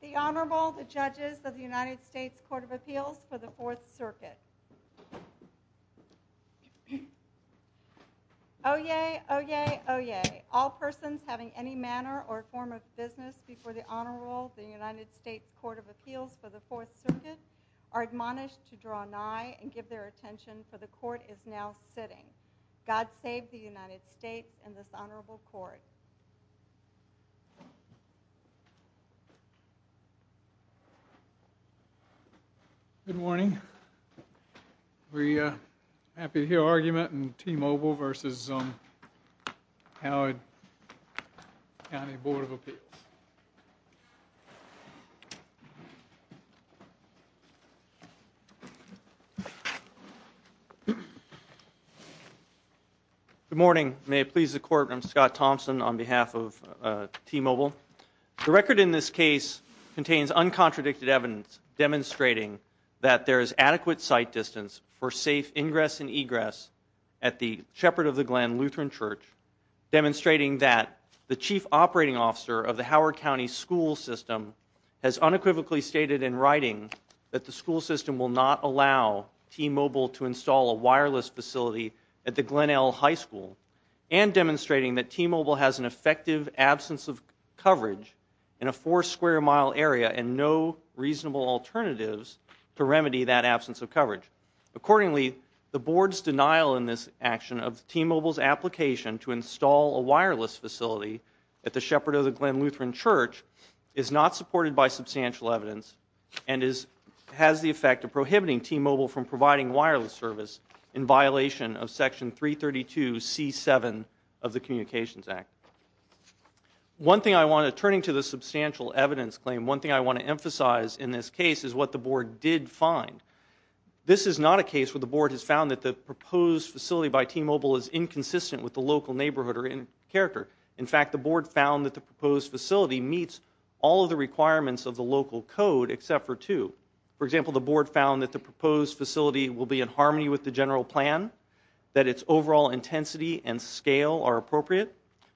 The Honorable, the Judges of the United States Court of Appeals for the Fourth Circuit. Oyez! Oyez! Oyez! All persons having any manner or form of business before the Honorable, the United States Court of Appeals for the Fourth Circuit, are admonished to draw nigh and give their attention, for the Court is now sitting. God save the United States and this Honorable Court. Good morning. We're happy to hear argument in T-Mobile v. Howard County Board of Appeals. Good morning. May it please the Court, I'm Scott Thompson on behalf of T-Mobile. The record in this case contains uncontradicted evidence demonstrating that there is adequate sight distance for safe ingress and egress at the Shepherd of the Glen Lutheran Church, demonstrating that the Chief Operating Officer of the Howard County School System has unequivocally stated in writing that the school system will not allow T-Mobile to install a wireless facility at the Glenelg High School, and demonstrating that T-Mobile has an effective absence of coverage in a four square mile area and no reasonable alternatives to remedy that absence of coverage. Accordingly, the Board's denial in this action of T-Mobile's application to install a wireless facility at the Shepherd of the Glen Lutheran Church is not supported by substantial evidence and has the effect of prohibiting T-Mobile from providing wireless service in violation of Section 332C7 of the Communications Act. One thing I want to, turning to the substantial evidence claim, one thing I want to emphasize in this case is what the Board did find. This is not a case where the Board has found that the proposed facility by T-Mobile is inconsistent with the local neighborhood or in character. In fact, the Board found that the proposed facility meets all of the requirements of the local code except for two. For example, the Board found that the proposed facility will be in harmony with the general plan, that its overall intensity and scale are appropriate,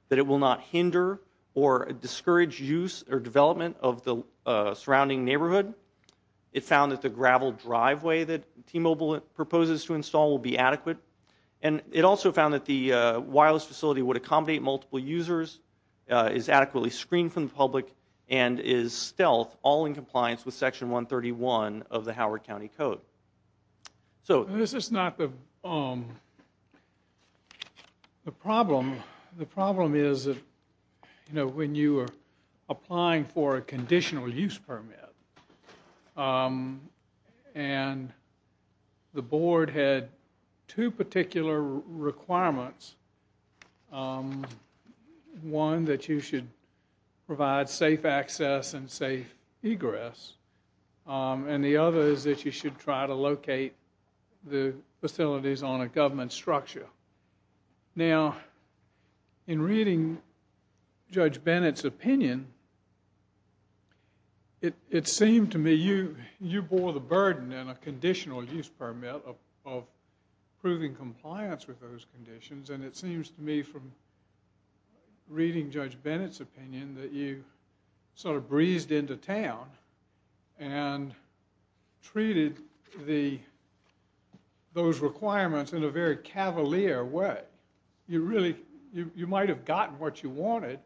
that it will not hinder or discourage use or development of the surrounding neighborhood. It found that the gravel driveway that T-Mobile proposes to install will be adequate. And it also found that the wireless facility would accommodate multiple users, is adequately screened from the public, and is stealth all in compliance with Section 131 of the Howard County Code. This is not the problem. The problem is that when you are applying for a conditional use permit and the Board had two particular requirements, one that you should provide safe access and safe egress, and the other is that you should try to locate the facilities on a government structure. Now, in reading Judge Bennett's opinion, it seemed to me you bore the burden in a conditional use permit of proving compliance with those conditions, and it seems to me from reading Judge Bennett's opinion that you sort of breezed into town and treated those requirements in a very cavalier way. You might have gotten what you wanted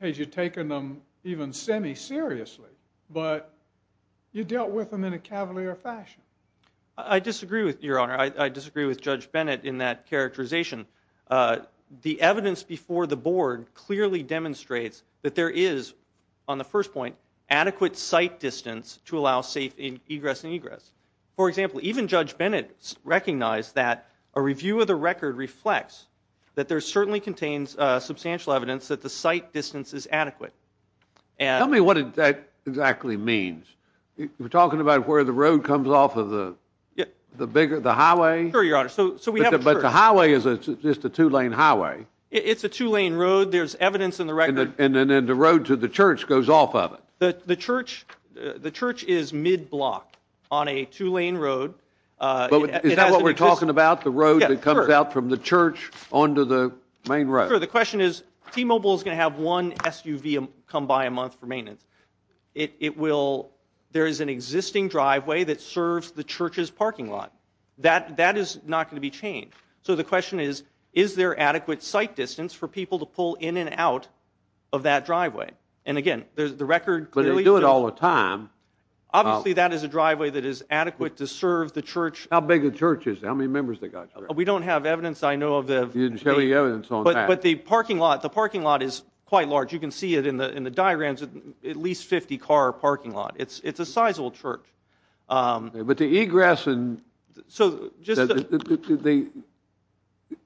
had you taken them even semi-seriously, but you dealt with them in a cavalier fashion. I disagree with Judge Bennett in that characterization. The evidence before the Board clearly demonstrates that there is, on the first point, adequate sight distance to allow safe egress and egress. For example, even Judge Bennett recognized that a review of the record reflects that there certainly contains substantial evidence that the sight distance is adequate. Tell me what that exactly means. You're talking about where the road comes off of the highway? Sure, Your Honor. But the highway is just a two-lane highway. It's a two-lane road. There's evidence in the record. And then the road to the church goes off of it. The church is mid-block on a two-lane road. Is that what we're talking about, the road that comes out from the church onto the main road? Sure. There is an existing driveway that serves the church's parking lot. That is not going to be changed. So the question is, is there adequate sight distance for people to pull in and out of that driveway? And, again, the record clearly shows that. But they do it all the time. Obviously, that is a driveway that is adequate to serve the church. How big a church is it? How many members does it have? We don't have evidence, I know, of that. You didn't show any evidence on that. But the parking lot is quite large. You can see it in the diagrams, at least 50-car parking lot. It's a sizable church. But the egress and the –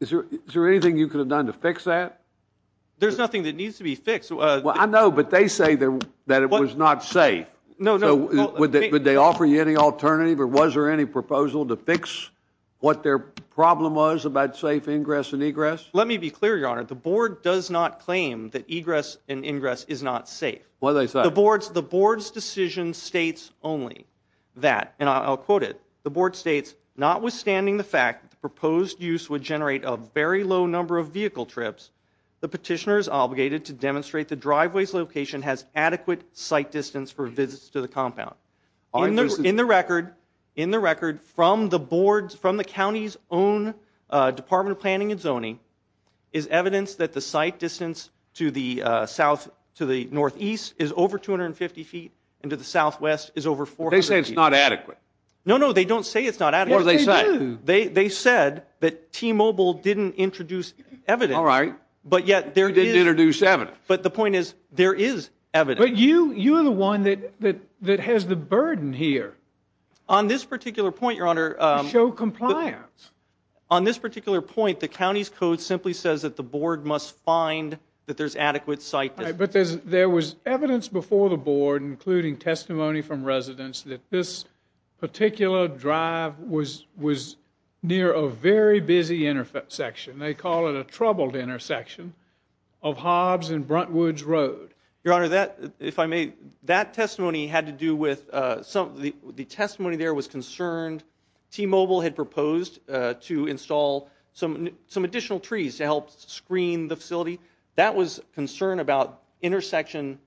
is there anything you could have done to fix that? There's nothing that needs to be fixed. Well, I know, but they say that it was not safe. No, no. Would they offer you any alternative or was there any proposal to fix what their problem was about safe ingress and egress? Let me be clear, Your Honor. The board does not claim that egress and ingress is not safe. What did they say? The board's decision states only that, and I'll quote it. The board states, notwithstanding the fact that the proposed use would generate a very low number of vehicle trips, the petitioner is obligated to demonstrate the driveway's location has adequate sight distance for visits to the compound. In the record, from the board's – from the county's own Department of Planning and Zoning, is evidence that the sight distance to the northeast is over 250 feet and to the southwest is over 400 feet. They say it's not adequate. No, no. They don't say it's not adequate. Yes, they do. They said that T-Mobile didn't introduce evidence. All right. But yet there is – They did introduce evidence. But the point is there is evidence. But you are the one that has the burden here. On this particular point, Your Honor – To show compliance. On this particular point, the county's code simply says that the board must find that there's adequate sight distance. But there was evidence before the board, including testimony from residents, that this particular drive was near a very busy intersection. Your Honor, if I may, that testimony had to do with – the testimony there was concerned. T-Mobile had proposed to install some additional trees to help screen the facility. That was concern about intersection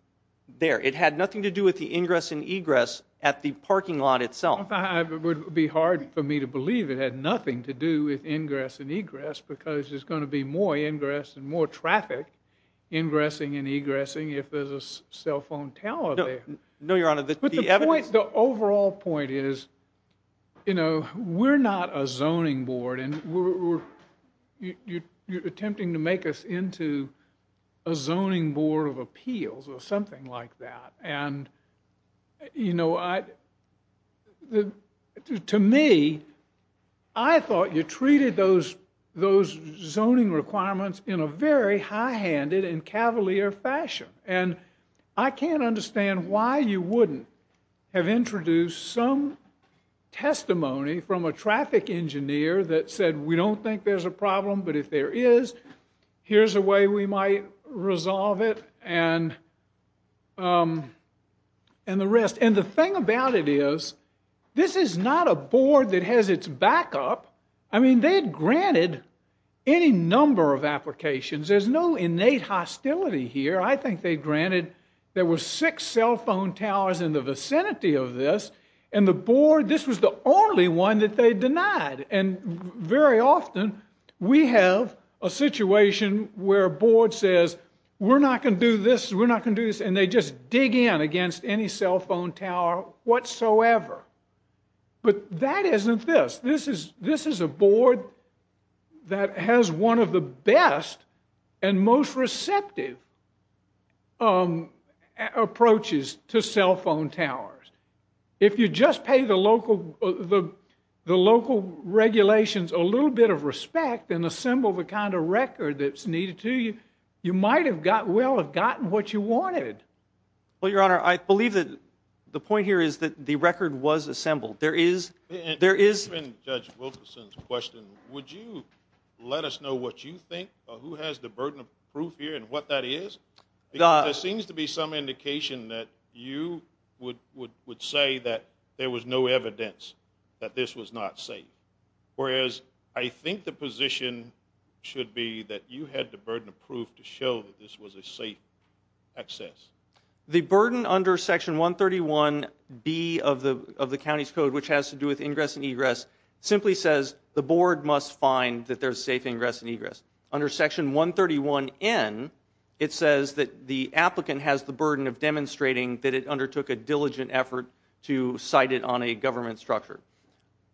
there. It had nothing to do with the ingress and egress at the parking lot itself. It would be hard for me to believe it had nothing to do with ingress and egress because there's going to be more ingress and more traffic, ingressing and egressing, if there's a cell phone tower there. No, Your Honor. But the overall point is, you know, we're not a zoning board. And you're attempting to make us into a zoning board of appeals or something like that. And, you know, to me, I thought you treated those zoning requirements in a very high-handed and cavalier fashion. And I can't understand why you wouldn't have introduced some testimony from a traffic engineer that said, we don't think there's a problem, but if there is, here's a way we might resolve it and the rest. And the thing about it is, this is not a board that has its backup. I mean, they had granted any number of applications. There's no innate hostility here. I think they granted – there were six cell phone towers in the vicinity of this, and the board – this was the only one that they denied. And very often, we have a situation where a board says, we're not going to do this, we're not going to do this, and they just dig in against any cell phone tower whatsoever. But that isn't this. This is a board that has one of the best and most receptive approaches to cell phone towers. If you just pay the local regulations a little bit of respect and assemble the kind of record that's needed to you, you might well have gotten what you wanted. Well, Your Honor, I believe that the point here is that the record was assembled. There is – And given Judge Wilkerson's question, would you let us know what you think or who has the burden of proof here and what that is? There seems to be some indication that you would say that there was no evidence that this was not safe, whereas I think the position should be that you had the burden of proof to show that this was a safe access. The burden under Section 131B of the county's code, which has to do with ingress and egress, simply says the board must find that there's safe ingress and egress. Under Section 131N, it says that the applicant has the burden of demonstrating that it undertook a diligent effort to cite it on a government structure.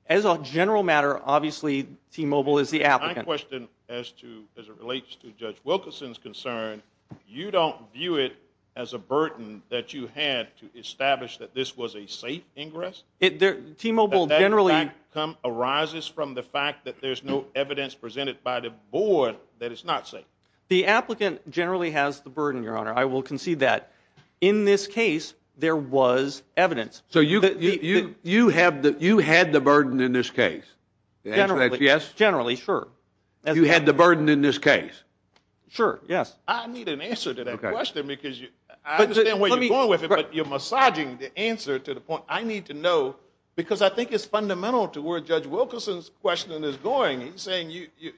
As a general matter, obviously T-Mobile is the applicant. My question as it relates to Judge Wilkerson's concern, you don't view it as a burden that you had to establish that this was a safe ingress? T-Mobile generally – The applicant generally has the burden, Your Honor. I will concede that. In this case, there was evidence. So you had the burden in this case? Generally, yes. Generally, sure. You had the burden in this case? Sure, yes. I need an answer to that question because I understand where you're going with it, but you're massaging the answer to the point I need to know because I think it's fundamental to where Judge Wilkerson's question is going. He's saying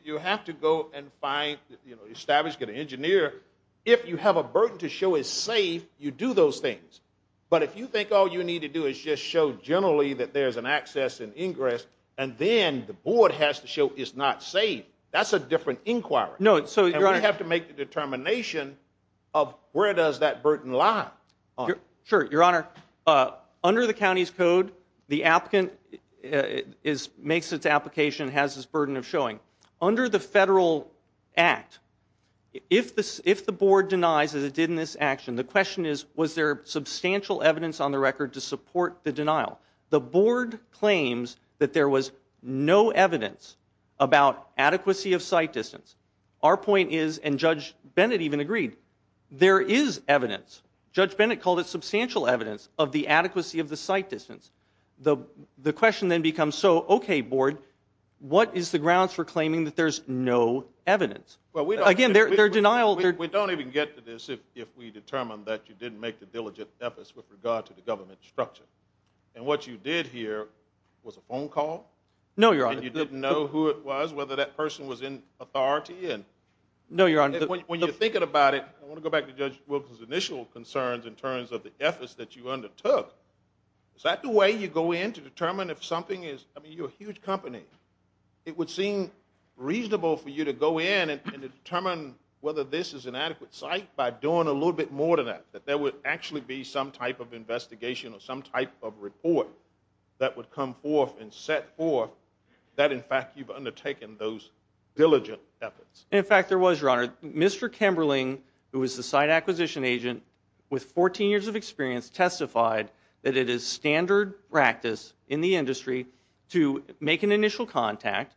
you have to go and find, establish, get an engineer. If you have a burden to show is safe, you do those things. But if you think all you need to do is just show generally that there's an access and ingress and then the board has to show it's not safe, that's a different inquiry. No, so, Your Honor – And we have to make the determination of where does that burden lie. Sure, Your Honor. Under the county's code, the applicant makes its application and has this burden of showing. Under the federal act, if the board denies, as it did in this action, the question is was there substantial evidence on the record to support the denial. The board claims that there was no evidence about adequacy of sight distance. Our point is, and Judge Bennett even agreed, there is evidence. Judge Bennett called it substantial evidence of the adequacy of the sight distance. The question then becomes, so, okay, board, what is the grounds for claiming that there's no evidence? Again, their denial – We don't even get to this if we determine that you didn't make the diligent efforts with regard to the government structure. And what you did here was a phone call? No, Your Honor. And you didn't know who it was, whether that person was in authority? No, Your Honor. When you're thinking about it, I want to go back to Judge Wilkins' initial concerns in terms of the efforts that you undertook. Is that the way you go in to determine if something is – I mean, you're a huge company. It would seem reasonable for you to go in and determine whether this is an adequate sight by doing a little bit more than that, that there would actually be some type of investigation or some type of report that would come forth and set forth that, in fact, you've undertaken those diligent efforts. In fact, there was, Your Honor. Mr. Kemberling, who was the site acquisition agent with 14 years of experience, testified that it is standard practice in the industry to make an initial contact.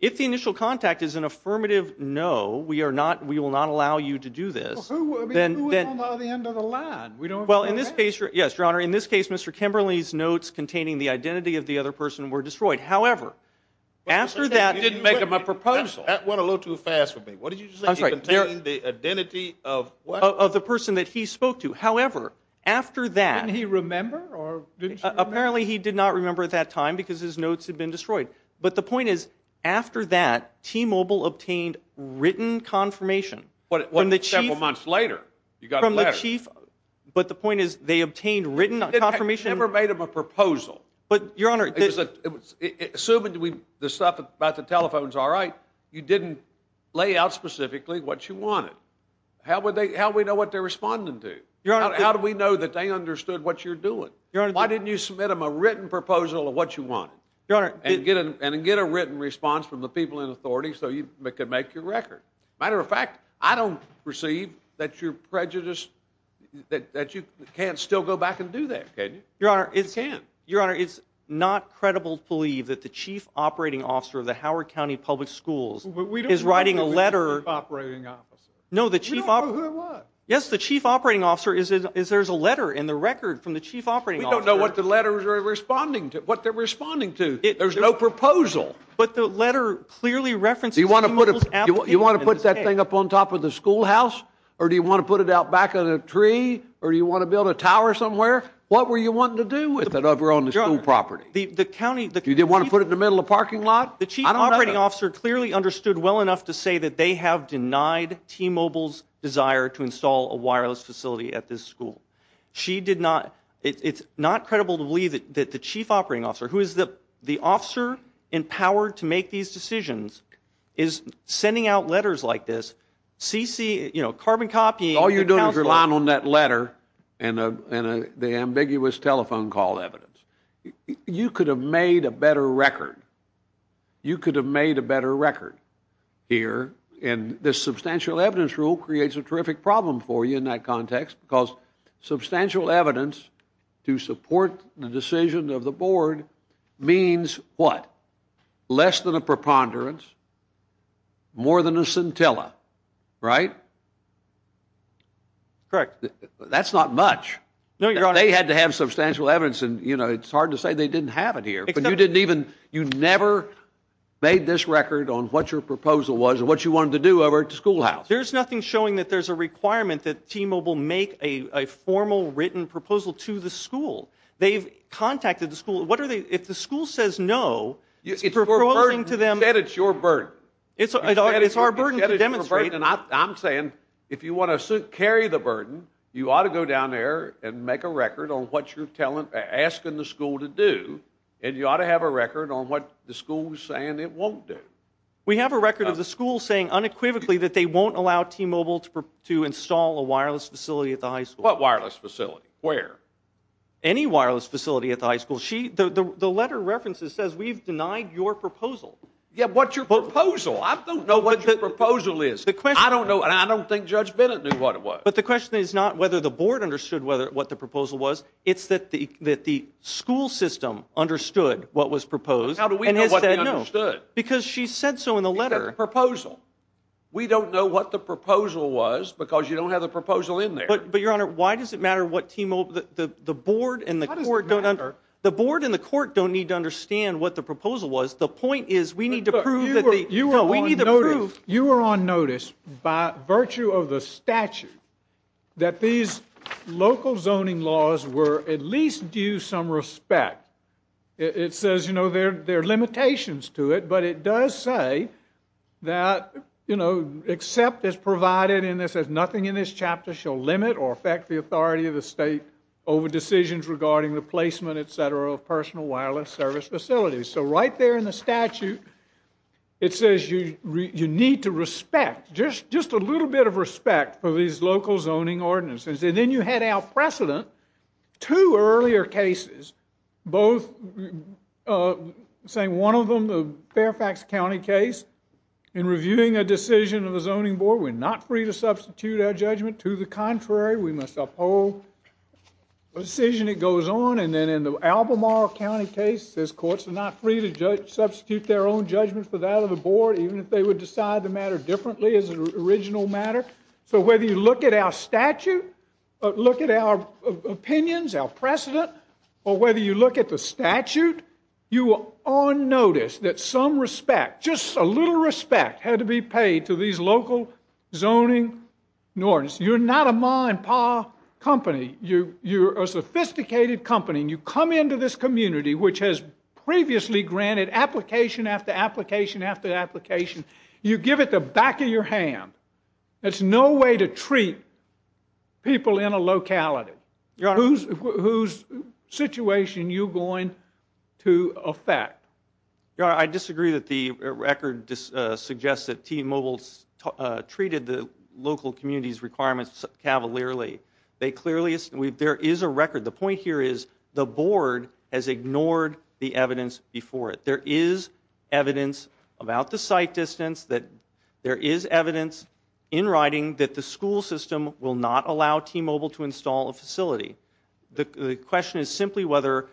If the initial contact is an affirmative no, we will not allow you to do this, then – Well, we don't know the end of the line. Well, in this case, Your Honor, in this case, Mr. Kemberling's notes containing the identity of the other person were destroyed. However, after that – You didn't make him a proposal. That went a little too fast for me. What did you say? He contained the identity of what? Of the person that he spoke to. However, after that – Didn't he remember, or didn't you remember? Apparently, he did not remember at that time because his notes had been destroyed. But the point is, after that, T-Mobile obtained written confirmation from the chief – What, several months later? You got a letter. From the chief, but the point is they obtained written confirmation – You never made him a proposal. But, Your Honor – Assuming the stuff about the telephone's all right, you didn't lay out specifically what you wanted. How would we know what they're responding to? Your Honor – How do we know that they understood what you're doing? Your Honor – Why didn't you submit them a written proposal of what you wanted? Your Honor – And get a written response from the people in authority so you could make your record. Matter of fact, I don't perceive that you're prejudiced, that you can't still go back and do that, can you? Your Honor, it's – You can. It's incredible to believe that the chief operating officer of the Howard County Public Schools is writing a letter – But we don't know who the chief operating officer is. No, the chief – We don't know who it was. Yes, the chief operating officer is – there's a letter in the record from the chief operating officer – We don't know what the letters are responding to, what they're responding to. There's no proposal. But the letter clearly references T-Mobile's application. Do you want to put that thing up on top of the schoolhouse? Or do you want to put it out back on a tree? Or do you want to build a tower somewhere? What were you wanting to do with it over on the school property? The county – You didn't want to put it in the middle of a parking lot? The chief operating officer clearly understood well enough to say that they have denied T-Mobile's desire to install a wireless facility at this school. She did not – it's not credible to believe that the chief operating officer, who is the officer in power to make these decisions, is sending out letters like this, CC – you know, carbon copying – All you're doing is relying on that letter and the ambiguous telephone call evidence. You could have made a better record. You could have made a better record here. And this substantial evidence rule creates a terrific problem for you in that context because substantial evidence to support the decision of the board means what? Less than a preponderance, more than a scintilla, right? Correct. That's not much. No, Your Honor – They had to have substantial evidence and, you know, it's hard to say they didn't have it here. But you didn't even – you never made this record on what your proposal was and what you wanted to do over at the schoolhouse. There's nothing showing that there's a requirement that T-Mobile make a formal written proposal to the school. They've contacted the school. What are they – if the school says no, it's proposing to them – You said it's your burden. It's our burden to demonstrate. And I'm saying if you want to carry the burden, you ought to go down there and make a record on what you're asking the school to do, and you ought to have a record on what the school's saying it won't do. We have a record of the school saying unequivocally that they won't allow T-Mobile to install a wireless facility at the high school. What wireless facility? Where? Any wireless facility at the high school. The letter references says we've denied your proposal. Yeah, but what's your proposal? I don't know what your proposal is. I don't know, and I don't think Judge Bennett knew what it was. But the question is not whether the board understood what the proposal was. It's that the school system understood what was proposed. How do we know what they understood? Because she said so in the letter. It's a proposal. We don't know what the proposal was because you don't have the proposal in there. But, Your Honor, why does it matter what T-Mobile – the board and the court don't – How does it matter? The board and the court don't need to understand what the proposal was. The point is we need to prove that the – You were on notice. By virtue of the statute that these local zoning laws were at least due some respect. It says, you know, there are limitations to it, but it does say that, you know, except as provided in this as nothing in this chapter shall limit or affect the authority of the state over decisions regarding the placement, et cetera, of personal wireless service facilities. So right there in the statute, it says you need to respect, just a little bit of respect for these local zoning ordinances. And then you had our precedent, two earlier cases, both saying one of them, the Fairfax County case, in reviewing a decision of the zoning board, we're not free to substitute our judgment. To the contrary, we must uphold the decision. It goes on. And then in the Albemarle County case, it says courts are not free to substitute their own judgment for that of the board, even if they would decide the matter differently as an original matter. So whether you look at our statute, look at our opinions, our precedent, or whether you look at the statute, you were on notice that some respect, just a little respect, had to be paid to these local zoning ordinances. You're not a ma and pa company. You're a sophisticated company. You come into this community, which has previously granted application after application after application. You give it the back of your hand. That's no way to treat people in a locality. Whose situation are you going to affect? I disagree that the record suggests that T-Mobile treated the local community's requirements cavalierly. There is a record. The point here is the board has ignored the evidence before it. There is evidence about the site distance. There is evidence in writing that the school system will not allow T-Mobile to install a facility. The question is simply whether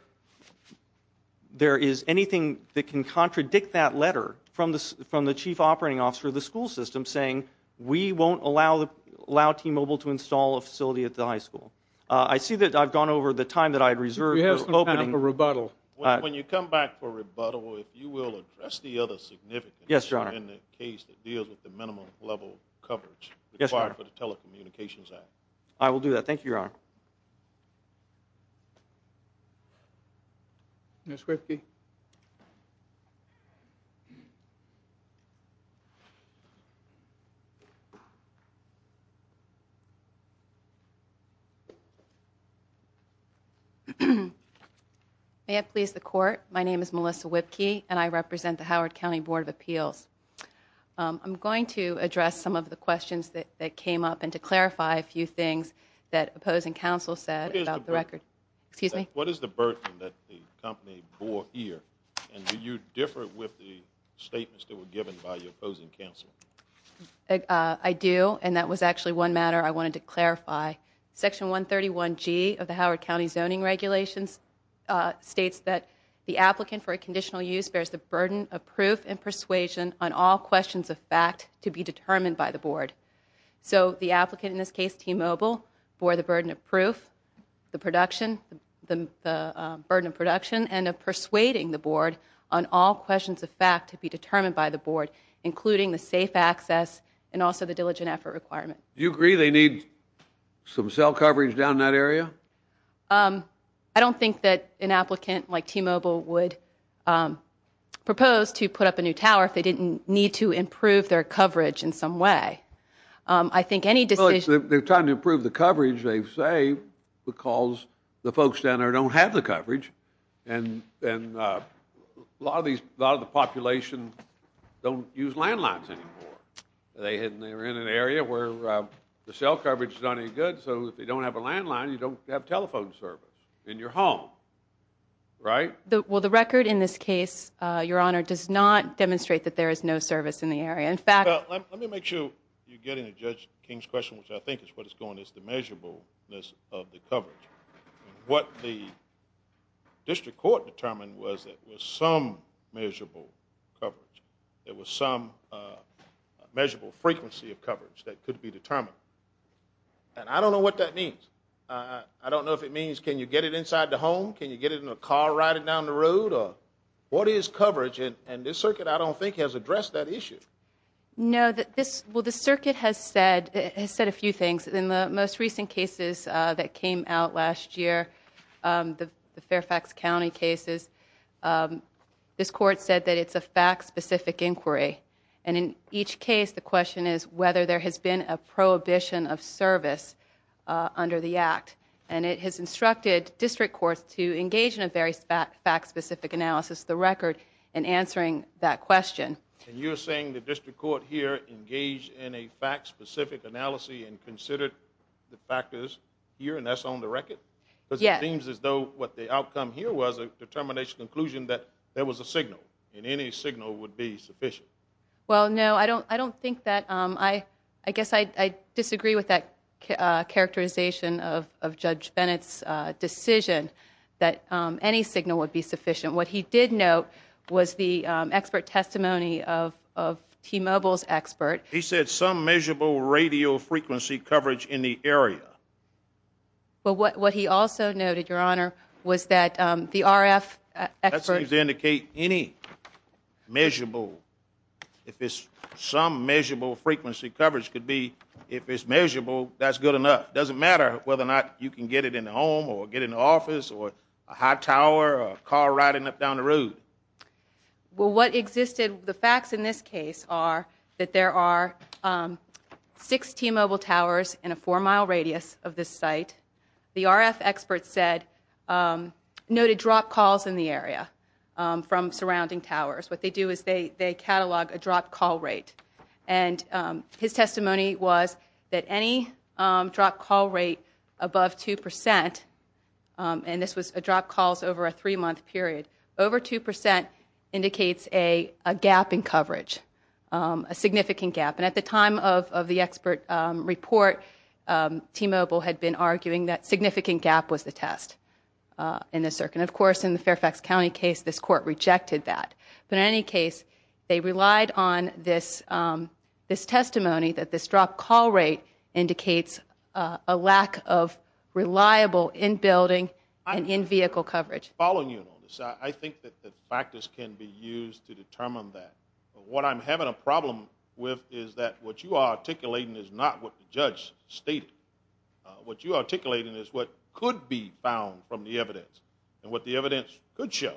there is anything that can contradict that letter from the chief operating officer of the school system, saying we won't allow T-Mobile to install a facility at the high school. I see that I've gone over the time that I reserved. We have some time for rebuttal. When you come back for rebuttal, if you will address the other significance in the case that deals with the minimum level coverage required for the Telecommunications Act. I will do that. Thank you, Your Honor. Ms. Whitkey? May it please the court, my name is Melissa Whitkey, and I represent the Howard County Board of Appeals. I'm going to address some of the questions that came up and to clarify a few things that opposing counsel said about the record. Excuse me? What is the burden that the company bore here, and do you differ with the statements that were given by your opposing counsel? I do, and that was actually one matter I wanted to clarify. Section 131G of the Howard County Zoning Regulations states that the applicant for a conditional use bears the burden of proof and persuasion on all questions of fact to be determined by the board. So the applicant, in this case T-Mobile, bore the burden of proof, the burden of production, and of persuading the board on all questions of fact to be determined by the board, including the safe access and also the diligent effort requirement. Do you agree they need some cell coverage down in that area? I don't think that an applicant like T-Mobile would propose to put up a new tower if they didn't need to improve their coverage in some way. I think any decision Well, they're trying to improve the coverage, they say, because the folks down there don't have the coverage, and a lot of the population don't use landlines anymore. They're in an area where the cell coverage is not any good, so if they don't have a landline, you don't have telephone service in your home. Right? Well, the record in this case, Your Honor, does not demonstrate that there is no service in the area. In fact Let me make sure you're getting to Judge King's question, which I think is what is going is the measurableness of the coverage. What the district court determined was that there was some measurable coverage. There was some measurable frequency of coverage that could be determined. And I don't know what that means. I don't know if it means can you get it inside the home, can you get it in a car, ride it down the road, or what is coverage? And this circuit, I don't think, has addressed that issue. No. Well, the circuit has said a few things. In the most recent cases that came out last year, the Fairfax County cases, this court said that it's a fact-specific inquiry, and in each case the question is whether there has been a prohibition of service under the act. And it has instructed district courts to engage in a very fact-specific analysis of the record in answering that question. And you're saying the district court here engaged in a fact-specific analysis and considered the factors here, and that's on the record? Yes. Because it seems as though what the outcome here was a determination, a conclusion that there was a signal, and any signal would be sufficient. Well, no. I don't think that I disagree with that characterization of Judge Bennett's decision that any signal would be sufficient. What he did note was the expert testimony of T-Mobile's expert. He said some measurable radio frequency coverage in the area. But what he also noted, Your Honor, was that the RF expert. That seems to indicate any measurable, if it's some measurable frequency coverage could be, if it's measurable, that's good enough. It doesn't matter whether or not you can get it in the home or get it in the office or a hot tower or a car riding up down the road. Well, what existed, the facts in this case are that there are six T-Mobile towers in a four-mile radius of this site. The RF expert noted dropped calls in the area from surrounding towers. What they do is they catalog a dropped call rate. And his testimony was that any dropped call rate above 2 percent, and this was dropped calls over a three-month period, over 2 percent indicates a gap in coverage, a significant gap. And at the time of the expert report, T-Mobile had been arguing that significant gap was the test. And, of course, in the Fairfax County case, this court rejected that. But in any case, they relied on this testimony that this dropped call rate indicates a lack of reliable in-building and in-vehicle coverage. Following you on this, I think that factors can be used to determine that. What I'm having a problem with is that what you are articulating is not what the judge stated. What you are articulating is what could be found from the evidence and what the evidence could show.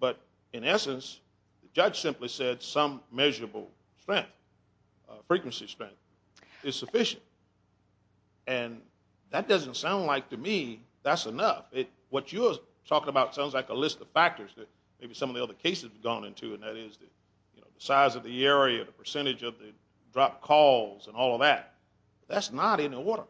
But, in essence, the judge simply said some measurable strength, frequency strength, is sufficient. And that doesn't sound like, to me, that's enough. Maybe some of the other cases we've gone into, and that is the size of the area, the percentage of the dropped calls and all of that. That's not in the order.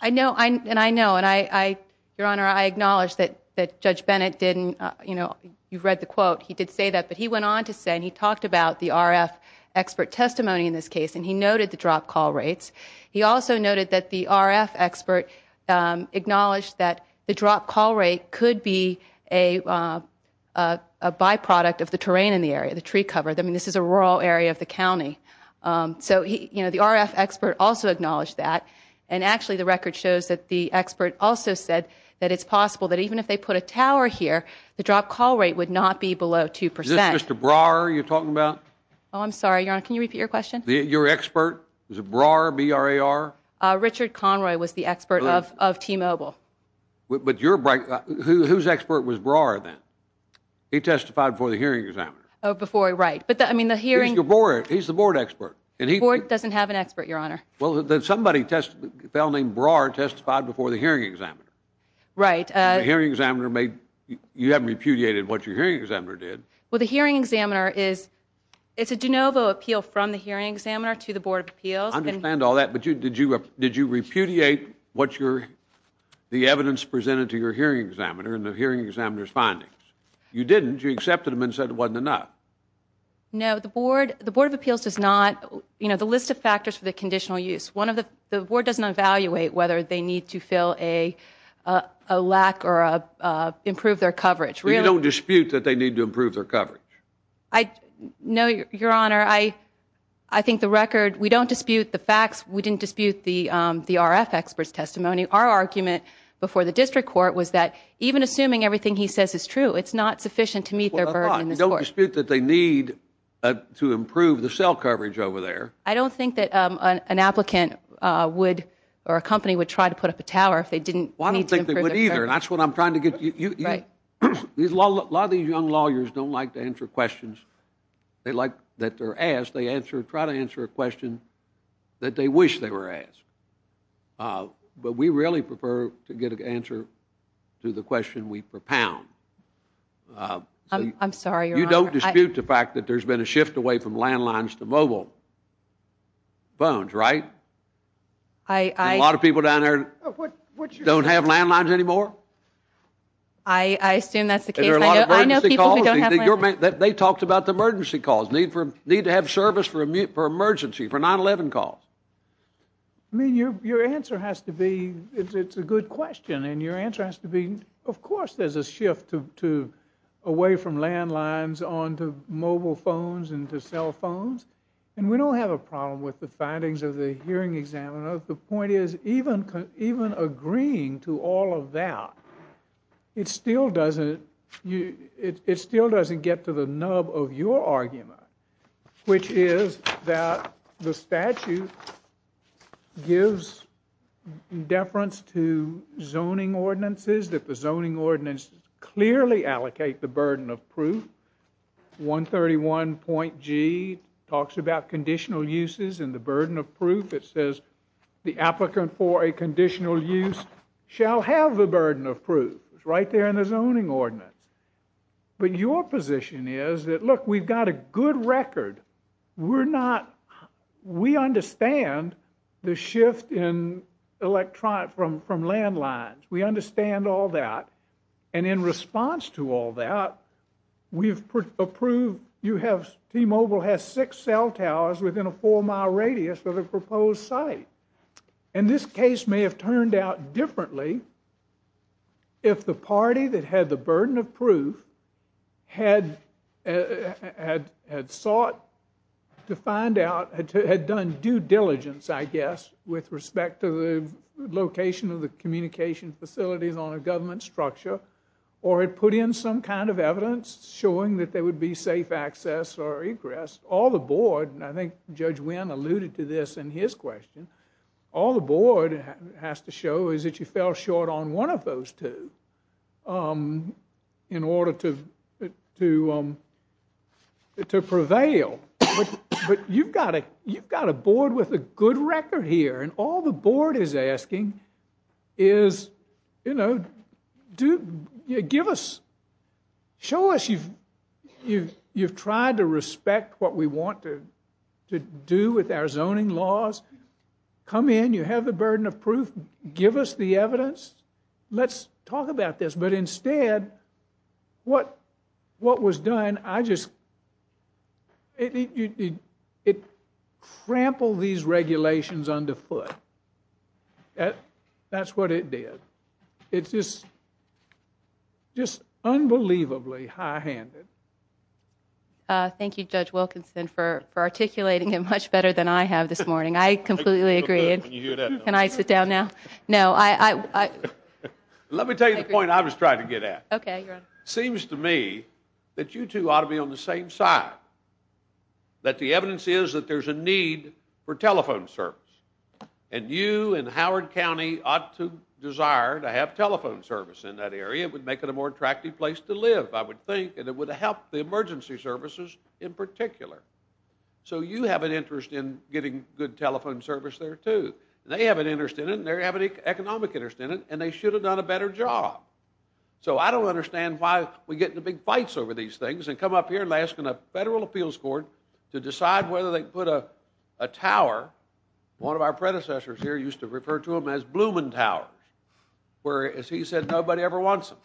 I know, and I know. And, Your Honor, I acknowledge that Judge Bennett didn't, you know, you've read the quote. He did say that. But he went on to say, and he talked about the RF expert testimony in this case, and he noted the dropped call rates. He also noted that the RF expert acknowledged that the dropped call rate could be a byproduct of the terrain in the area, the tree cover. I mean, this is a rural area of the county. So, you know, the RF expert also acknowledged that. And, actually, the record shows that the expert also said that it's possible that even if they put a tower here, the dropped call rate would not be below 2%. Is this Mr. Brower you're talking about? Oh, I'm sorry, Your Honor. Can you repeat your question? Your expert? Is it Brower, B-R-A-R? Richard Conroy was the expert of T-Mobile. But your, whose expert was Brower then? He testified before the hearing examiner. Oh, before, right. But, I mean, the hearing. He's the board expert. The board doesn't have an expert, Your Honor. Well, then somebody, a fellow named Brower testified before the hearing examiner. Right. The hearing examiner made, you haven't repudiated what your hearing examiner did. Well, the hearing examiner is, it's a de novo appeal from the hearing examiner to the board of appeals. I understand all that. But did you repudiate what your, the evidence presented to your hearing examiner and the hearing examiner's findings? You didn't. You accepted them and said it wasn't enough. No, the board, the board of appeals does not, you know, the list of factors for the conditional use. One of the, the board doesn't evaluate whether they need to fill a lack or improve their coverage. You don't dispute that they need to improve their coverage? I, no, Your Honor, I, I think the record, we don't dispute the facts. We didn't dispute the RF expert's testimony. Our argument before the district court was that even assuming everything he says is true, it's not sufficient to meet their burden in this court. Well, I thought, you don't dispute that they need to improve the cell coverage over there. I don't think that an applicant would, or a company would try to put up a tower if they didn't need to improve their coverage. Well, I don't think they would either. And that's what I'm trying to get to you. Right. A lot of these young lawyers don't like to answer questions that they're asked. They try to answer a question that they wish they were asked. But we really prefer to get an answer to the question we propound. I'm sorry, Your Honor. You don't dispute the fact that there's been a shift away from landlines to mobile phones, right? I, I. People who don't have landlines anymore? I assume that's the case. I know people who don't have landlines. They talked about the emergency calls, need to have service for emergency, for 9-11 calls. I mean, your answer has to be, it's a good question. And your answer has to be, of course there's a shift away from landlines on to mobile phones and to cell phones. And we don't have a problem with the findings of the hearing examiner. The point is, even agreeing to all of that, it still doesn't get to the nub of your argument, which is that the statute gives deference to zoning ordinances, that the zoning ordinances clearly allocate the burden of proof. 131.G talks about conditional uses and the burden of proof. It says the applicant for a conditional use shall have the burden of proof. It's right there in the zoning ordinance. But your position is that, look, we've got a good record. We're not, we understand the shift in electronic, from landlines. We understand all that. And in response to all that, we've approved, you have, T-Mobile has six cell towers within a four-mile radius of the proposed site. And this case may have turned out differently if the party that had the burden of proof had sought to find out, had done due diligence, I guess, with respect to the location of the communication facilities on a government structure or had put in some kind of evidence showing that there would be safe access or egress. All the board, and I think Judge Wynn alluded to this in his question, all the board has to show is that you fell short on one of those two in order to prevail. But you've got a board with a good record here, and all the board is asking is, you know, give us, show us you've tried to respect what we want to do with our zoning laws. Come in, you have the burden of proof. Give us the evidence. Let's talk about this. But instead, what was done, I just, it trampled these regulations underfoot. That's what it did. It's just unbelievably high-handed. Thank you, Judge Wilkinson, for articulating it much better than I have this morning. I completely agree. Can I sit down now? No. Let me tell you the point I was trying to get at. Okay. It seems to me that you two ought to be on the same side, that the evidence is that there's a need for telephone service, and you in Howard County ought to desire to have telephone service in that area. It would make it a more attractive place to live, I would think, and it would help the emergency services in particular. So you have an interest in getting good telephone service there, too. They have an interest in it, and they have an economic interest in it, and they should have done a better job. So I don't understand why we get into big fights over these things and come up here and ask a federal appeals court to decide whether they put a tower one of our predecessors here used to refer to them as Blooming Tower, where, as he said, nobody ever wants them.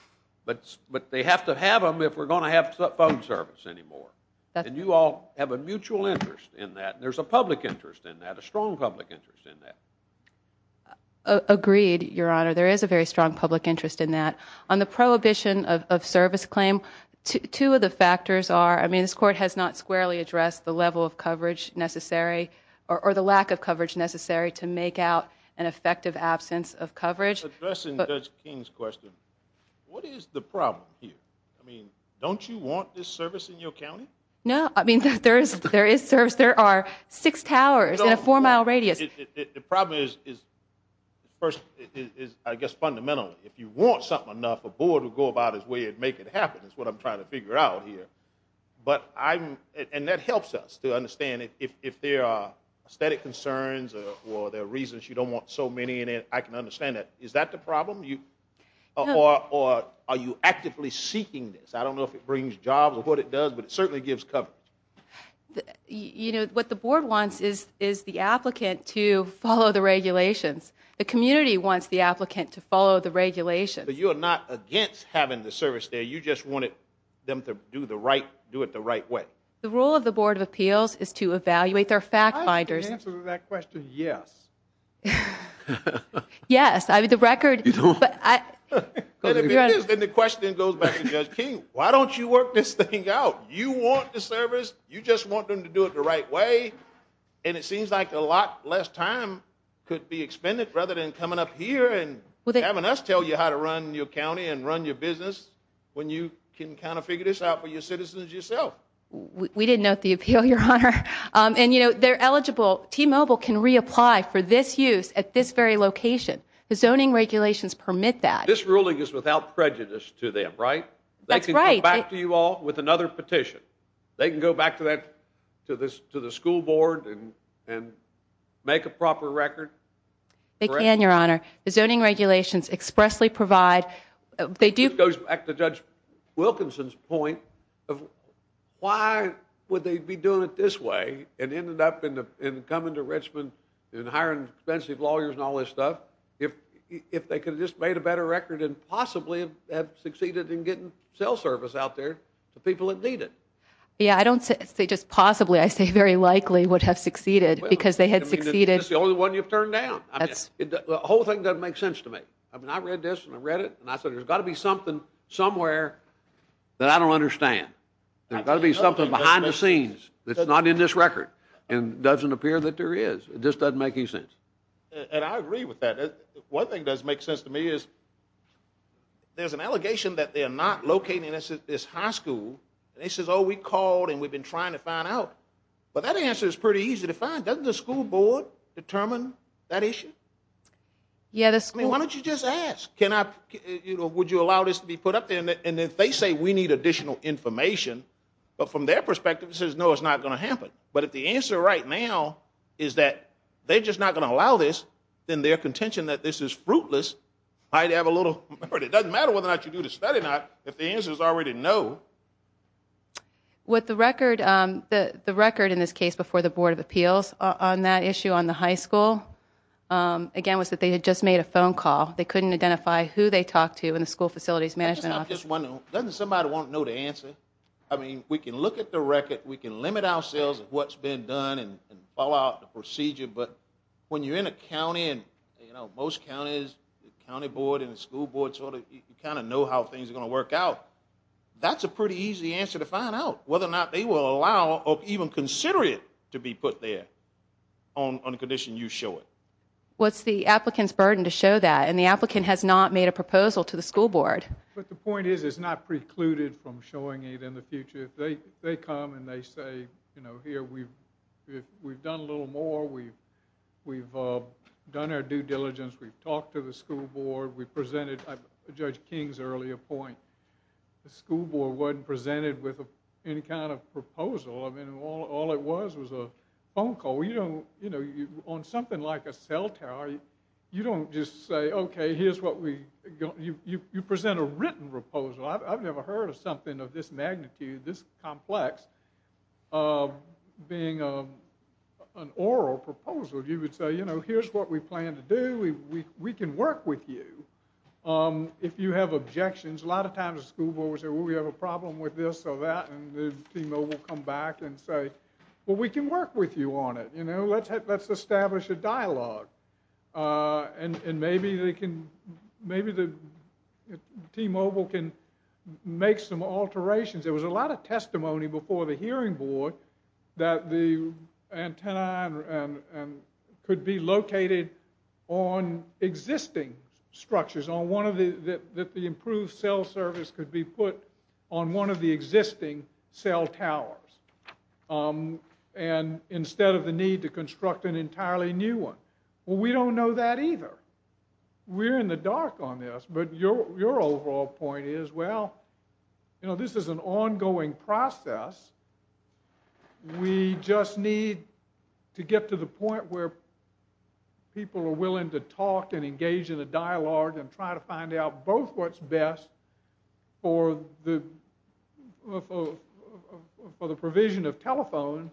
But they have to have them if we're going to have phone service anymore. And you all have a mutual interest in that. There's a public interest in that, a strong public interest in that. Agreed, Your Honor. There is a very strong public interest in that. On the prohibition of service claim, two of the factors are, I mean, this court has not squarely addressed the level of coverage necessary or the lack of coverage necessary to make out an effective absence of coverage. Addressing Judge King's question, what is the problem here? I mean, don't you want this service in your county? No, I mean, there is service. There are six towers in a four-mile radius. The problem is, first, I guess fundamentally, if you want something enough, a board will go about its way and make it happen is what I'm trying to figure out here. And that helps us to understand if there are aesthetic concerns or there are reasons you don't want so many in it, I can understand that. Is that the problem? Or are you actively seeking this? I don't know if it brings jobs or what it does, but it certainly gives coverage. You know, what the board wants is the applicant to follow the regulations. The community wants the applicant to follow the regulations. But you are not against having the service there. You just want them to do it the right way. The role of the Board of Appeals is to evaluate their fact-finders. I can answer that question, yes. Yes, I mean, the record. And the question then goes back to Judge King. Why don't you work this thing out? You want the service. You just want them to do it the right way. And it seems like a lot less time could be expended rather than coming up here and having us tell you how to run your county and run your business when you can kind of figure this out for your citizens yourself. We didn't note the appeal, Your Honor. And, you know, they're eligible. T-Mobile can reapply for this use at this very location. The zoning regulations permit that. This ruling is without prejudice to them, right? That's right. They can come back to you all with another petition. They can go back to the school board and make a proper record. They can, Your Honor. The zoning regulations expressly provide. This goes back to Judge Wilkinson's point of why would they be doing it this way and ended up coming to Richmond and hiring expensive lawyers and all this stuff if they could have just made a better record and possibly have succeeded in getting cell service out there to people that need it? Yeah, I don't say just possibly. I say very likely would have succeeded because they had succeeded. It's the only one you've turned down. The whole thing doesn't make sense to me. I mean, I read this and I read it and I said there's got to be something somewhere that I don't understand. There's got to be something behind the scenes that's not in this record and doesn't appear that there is. It just doesn't make any sense. And I agree with that. One thing that makes sense to me is there's an allegation that they're not locating this high school. They say, oh, we called and we've been trying to find out. But that answer is pretty easy to find. Doesn't the school board determine that issue? I mean, why don't you just ask? Would you allow this to be put up there? And if they say we need additional information, but from their perspective it says, no, it's not going to happen. But if the answer right now is that they're just not going to allow this, then their contention that this is fruitless might have a little merit. It doesn't matter whether or not you do the study or not if the answer is already no. The record in this case before the Board of Appeals on that issue on the high school, again, was that they had just made a phone call. They couldn't identify who they talked to in the school facilities management office. Doesn't somebody want to know the answer? I mean, we can look at the record. We can limit ourselves at what's been done and follow out the procedure. But when you're in a county, and most counties, the county board and the school board, you kind of know how things are going to work out. That's a pretty easy answer to find out, whether or not they will allow or even consider it to be put there on the condition you show it. What's the applicant's burden to show that? And the applicant has not made a proposal to the school board. But the point is it's not precluded from showing it in the future. If they come and they say, you know, here we've done a little more. We've done our due diligence. We've talked to the school board. We presented Judge King's earlier point. The school board wasn't presented with any kind of proposal. I mean, all it was was a phone call. You know, on something like a cell tower, you don't just say, okay, here's what we got. You present a written proposal. I've never heard of something of this magnitude, this complex, being an oral proposal. You would say, you know, here's what we plan to do. We can work with you if you have objections. A lot of times the school board will say, well, we have a problem with this or that. And the T-Mobile will come back and say, well, we can work with you on it. You know, let's establish a dialogue. And maybe the T-Mobile can make some alterations. There was a lot of testimony before the hearing board that the antenna could be located on existing structures, that the improved cell service could be put on one of the existing cell towers instead of the need to construct an entirely new one. Well, we don't know that either. We're in the dark on this. But your overall point is, well, you know, this is an ongoing process. We just need to get to the point where people are willing to talk and engage in a dialogue and try to find out both what's best for the provision of telephone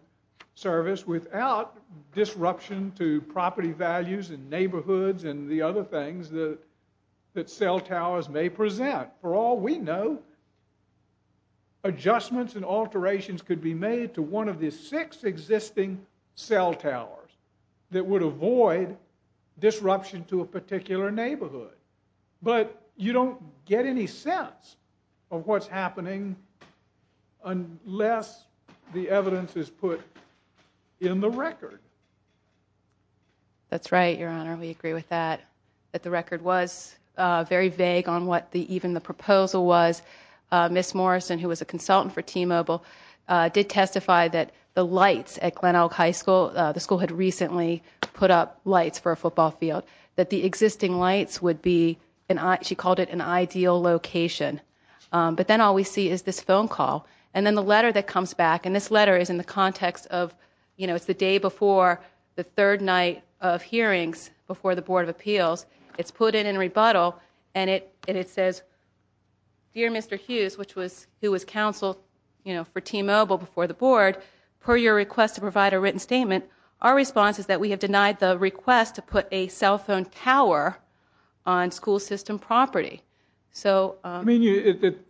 service without disruption to property values and neighborhoods and the other things that cell towers may present. For all we know, adjustments and alterations could be made to one of the six existing cell towers that would avoid disruption to a particular neighborhood. But you don't get any sense of what's happening unless the evidence is put in the record. That's right, Your Honor. We agree with that. That the record was very vague on what even the proposal was. Ms. Morrison, who was a consultant for T-Mobile, did testify that the lights at Glenelg High School, the school had recently put up lights for a football field, that the existing lights would be, she called it an ideal location. But then all we see is this phone call. And then the letter that comes back, and this letter is in the context of, you know, it's the day before the third night of hearings before the Board of Appeals. It's put in in rebuttal and it says, Dear Mr. Hughes, who was counsel for T-Mobile before the Board, per your request to provide a written statement, our response is that we have denied the request to put a cell phone tower on school system property. I mean,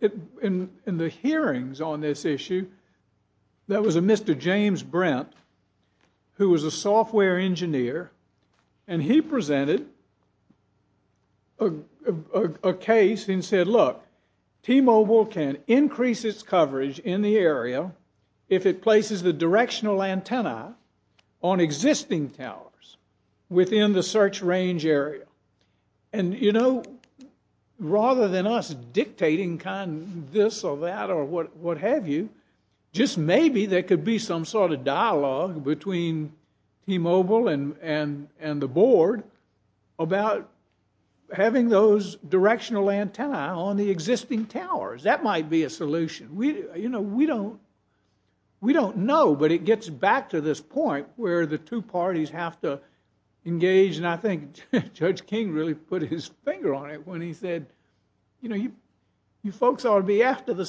in the hearings on this issue, there was a Mr. James Brent, who was a software engineer, and he presented a case and said, Look, T-Mobile can increase its coverage in the area if it places the directional antenna on existing towers within the search range area. And, you know, rather than us dictating kind of this or that or what have you, just maybe there could be some sort of dialogue between T-Mobile and the Board about having those directional antenna on the existing towers. That might be a solution. You know, we don't know, but it gets back to this point where the two parties have to engage, and I think Judge King really put his finger on it when he said, You know, you folks ought to be after the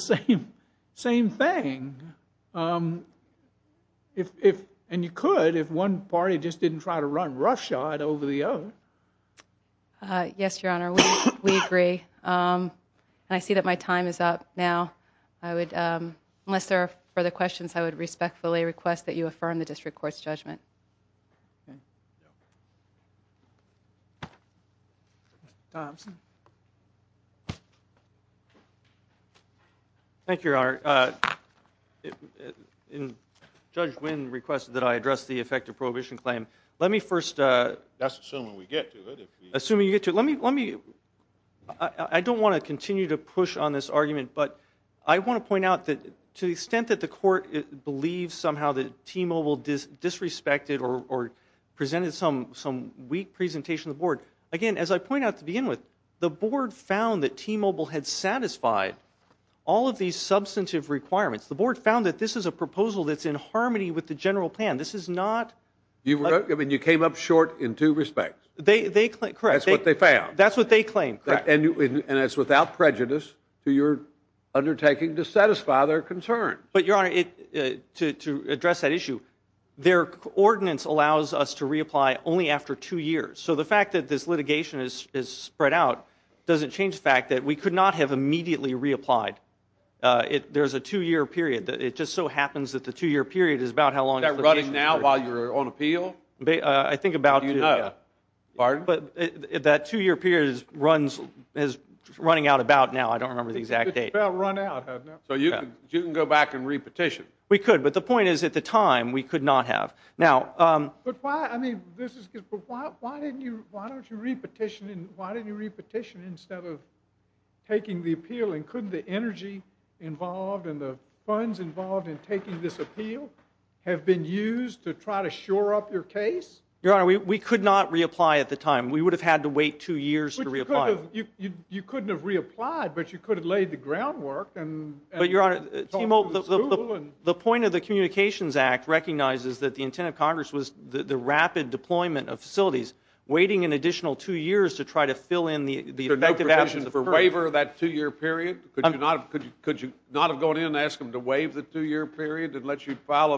same thing. And you could if one party just didn't try to run roughshod over the other. Yes, Your Honor, we agree. I see that my time is up now. Unless there are further questions, I would respectfully request that you affirm the district court's judgment. Thompson. Thank you, Your Honor. Judge Wynn requested that I address the effective prohibition claim. Let me first assume you get to it. But I want to point out that to the extent that the court believes somehow that T-Mobile disrespected or presented some weak presentation to the Board, again, as I point out to begin with, the Board found that T-Mobile had satisfied all of these substantive requirements. The Board found that this is a proposal that's in harmony with the general plan. This is not. I mean, you came up short in two respects. Correct. That's what they found. That's what they claim. Correct. And it's without prejudice to your undertaking to satisfy their concerns. But, Your Honor, to address that issue, their ordinance allows us to reapply only after two years. So the fact that this litigation is spread out doesn't change the fact that we could not have immediately reapplied. There's a two-year period. It just so happens that the two-year period is about how long the litigation period is. Is that running now while you're on appeal? I think about two years. Pardon? That two-year period is running out about now. I don't remember the exact date. It's about run out, hasn't it? So you can go back and repetition. We could, but the point is at the time we could not have. But why didn't you repetition instead of taking the appeal? And couldn't the energy involved and the funds involved in taking this appeal have been used to try to shore up your case? Your Honor, we could not reapply at the time. We would have had to wait two years to reapply. You couldn't have reapplied, but you could have laid the groundwork. But, Your Honor, the point of the Communications Act recognizes that the intent of Congress was the rapid deployment of facilities, waiting an additional two years to try to fill in the effective absence of period. So no petition for waiver of that two-year period? Could you not have gone in and asked them to waive the two-year period and let you file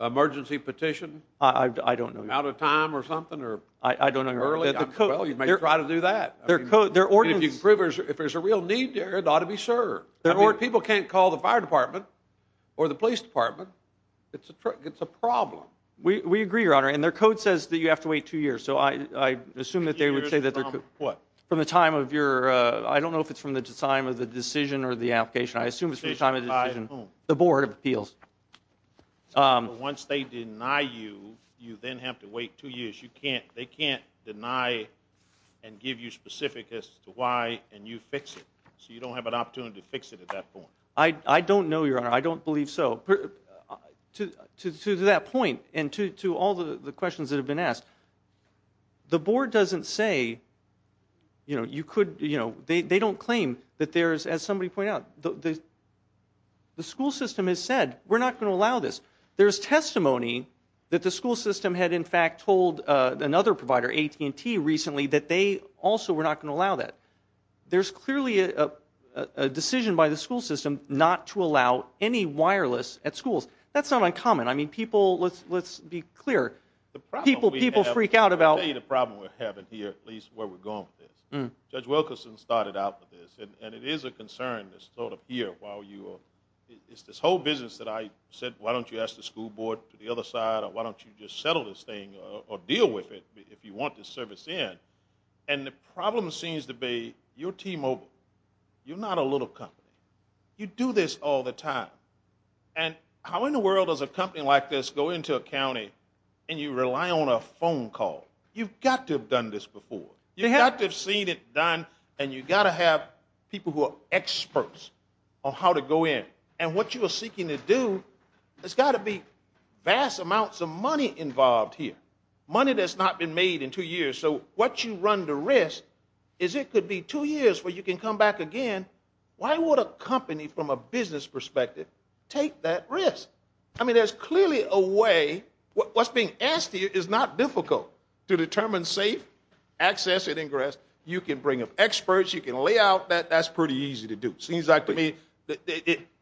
an emergency petition? I don't know, Your Honor. Out of time or something or early? I don't know, Your Honor. Well, you might try to do that. If there's a real need there, it ought to be served. People can't call the fire department or the police department. It's a problem. We agree, Your Honor, and their code says that you have to wait two years. So I assume that they would say that they're going to wait two years from what? From the time of your – I don't know if it's from the time of the decision or the application. I assume it's from the time of the decision. Decision by whom? The Board of Appeals. Once they deny you, you then have to wait two years. They can't deny and give you specifics as to why and you fix it. So you don't have an opportunity to fix it at that point. I don't know, Your Honor. I don't believe so. To that point and to all the questions that have been asked, the Board doesn't say you could – they don't claim that there is, as somebody pointed out, the school system has said, we're not going to allow this. There's testimony that the school system had in fact told another provider, AT&T, recently that they also were not going to allow that. There's clearly a decision by the school system not to allow any wireless at schools. That's not uncommon. I mean, people – let's be clear. People freak out about – I'll tell you the problem we're having here at least where we're going with this. Judge Wilkerson started out with this, and it is a concern that's sort of here while you – it's this whole business that I said, why don't you ask the school board to the other side or why don't you just settle this thing or deal with it if you want this service in. And the problem seems to be you're T-Mobile. You're not a little company. You do this all the time. And how in the world does a company like this go into a county and you rely on a phone call? You've got to have done this before. You've got to have seen it done, and you've got to have people who are experts on how to go in. And what you are seeking to do, there's got to be vast amounts of money involved here, money that's not been made in two years. So what you run the risk is it could be two years where you can come back again. Why would a company from a business perspective take that risk? I mean, there's clearly a way. What's being asked here is not difficult to determine safe access and ingress. You can bring up experts. You can lay out that. That's pretty easy to do.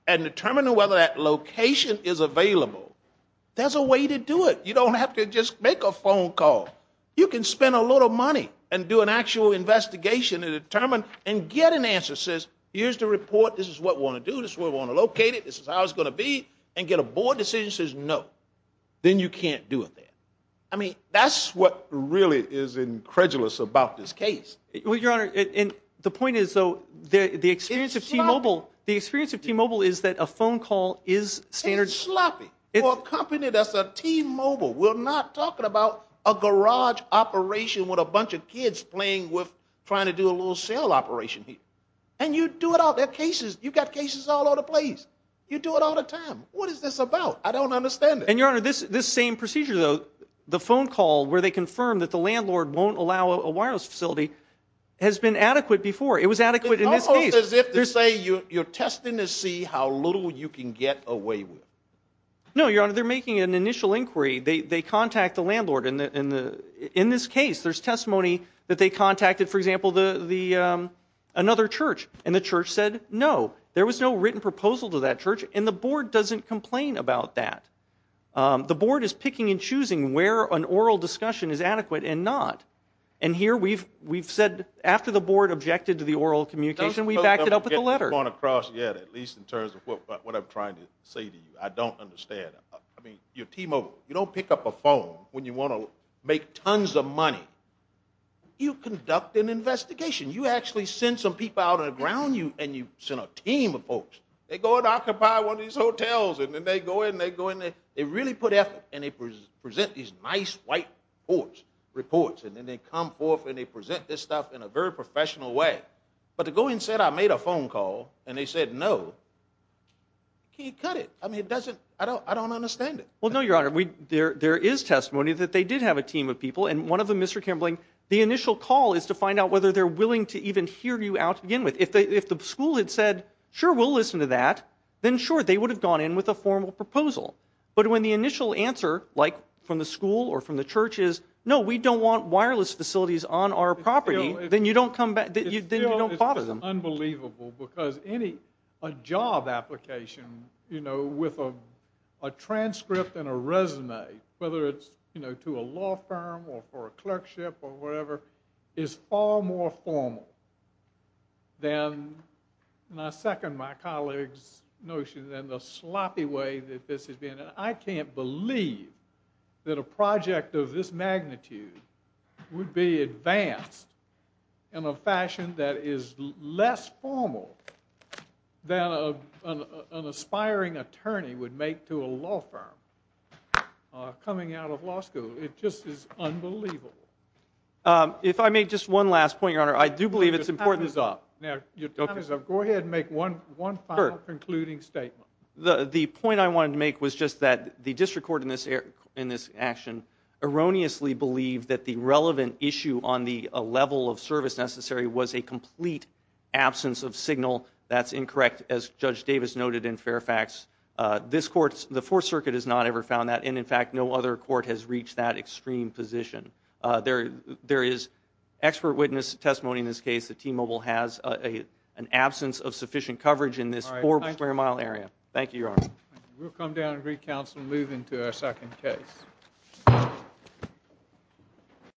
And determine whether that location is available. There's a way to do it. You don't have to just make a phone call. You can spend a lot of money and do an actual investigation and get an answer that says here's the report. This is what we want to do. This is where we want to locate it. This is how it's going to be. And get a board decision that says no. Then you can't do it there. I mean, that's what really is incredulous about this case. Well, Your Honor, the point is, though, the experience of T-Mobile, the experience of T-Mobile is that a phone call is standard. It's sloppy. For a company that's a T-Mobile, we're not talking about a garage operation with a bunch of kids playing with trying to do a little sale operation here. And you do it all. There are cases. You've got cases all over the place. You do it all the time. What is this about? I don't understand it. And, Your Honor, this same procedure, though, the phone call where they confirm that the landlord won't allow a wireless facility has been adequate before. It was adequate in this case. It's almost as if to say you're testing to see how little you can get away with. No, Your Honor, they're making an initial inquiry. They contact the landlord. In this case, there's testimony that they contacted, for example, another church, and the church said no. There was no written proposal to that church, and the board doesn't complain about that. The board is picking and choosing where an oral discussion is adequate and not. And here we've said after the board objected to the oral communication, we backed it up with a letter. I don't get what you're going across yet, at least in terms of what I'm trying to say to you. I don't understand. I mean, you're T-Mobile. You don't pick up a phone when you want to make tons of money. You conduct an investigation. You actually send some people out on the ground, and you send a team of folks. They go and occupy one of these hotels, and then they go in, they go in. They really put effort, and they present these nice, white reports, and then they come forth and they present this stuff in a very professional way. But to go in and say, I made a phone call, and they said no, can't cut it. I mean, it doesn't – I don't understand it. Well, no, Your Honor, there is testimony that they did have a team of people, and one of them, Mr. Kimbling, the initial call is to find out whether they're willing to even hear you out to begin with. If the school had said, sure, we'll listen to that, then sure, they would have gone in with a formal proposal. But when the initial answer, like from the school or from the church is, no, we don't want wireless facilities on our property, then you don't bother them. It's unbelievable because any job application with a transcript and a resume, whether it's to a law firm or for a clerkship or whatever, is far more formal than, and I second my colleague's notion, than the sloppy way that this has been. I can't believe that a project of this magnitude would be advanced in a fashion that is less formal than an aspiring attorney would make to a law firm coming out of law school. It just is unbelievable. If I may, just one last point, Your Honor. I do believe it's important to stop. Go ahead and make one final concluding statement. The point I wanted to make was just that the district court in this action erroneously believed that the relevant issue on the level of service necessary was a complete absence of signal. That's incorrect, as Judge Davis noted in Fairfax. The Fourth Circuit has not ever found that, and, in fact, no other court has reached that extreme position. There is expert witness testimony in this case that T-Mobile has an absence of sufficient coverage in this four-square-mile area. Thank you, Your Honor. We'll come down and re-counsel and move into our second case.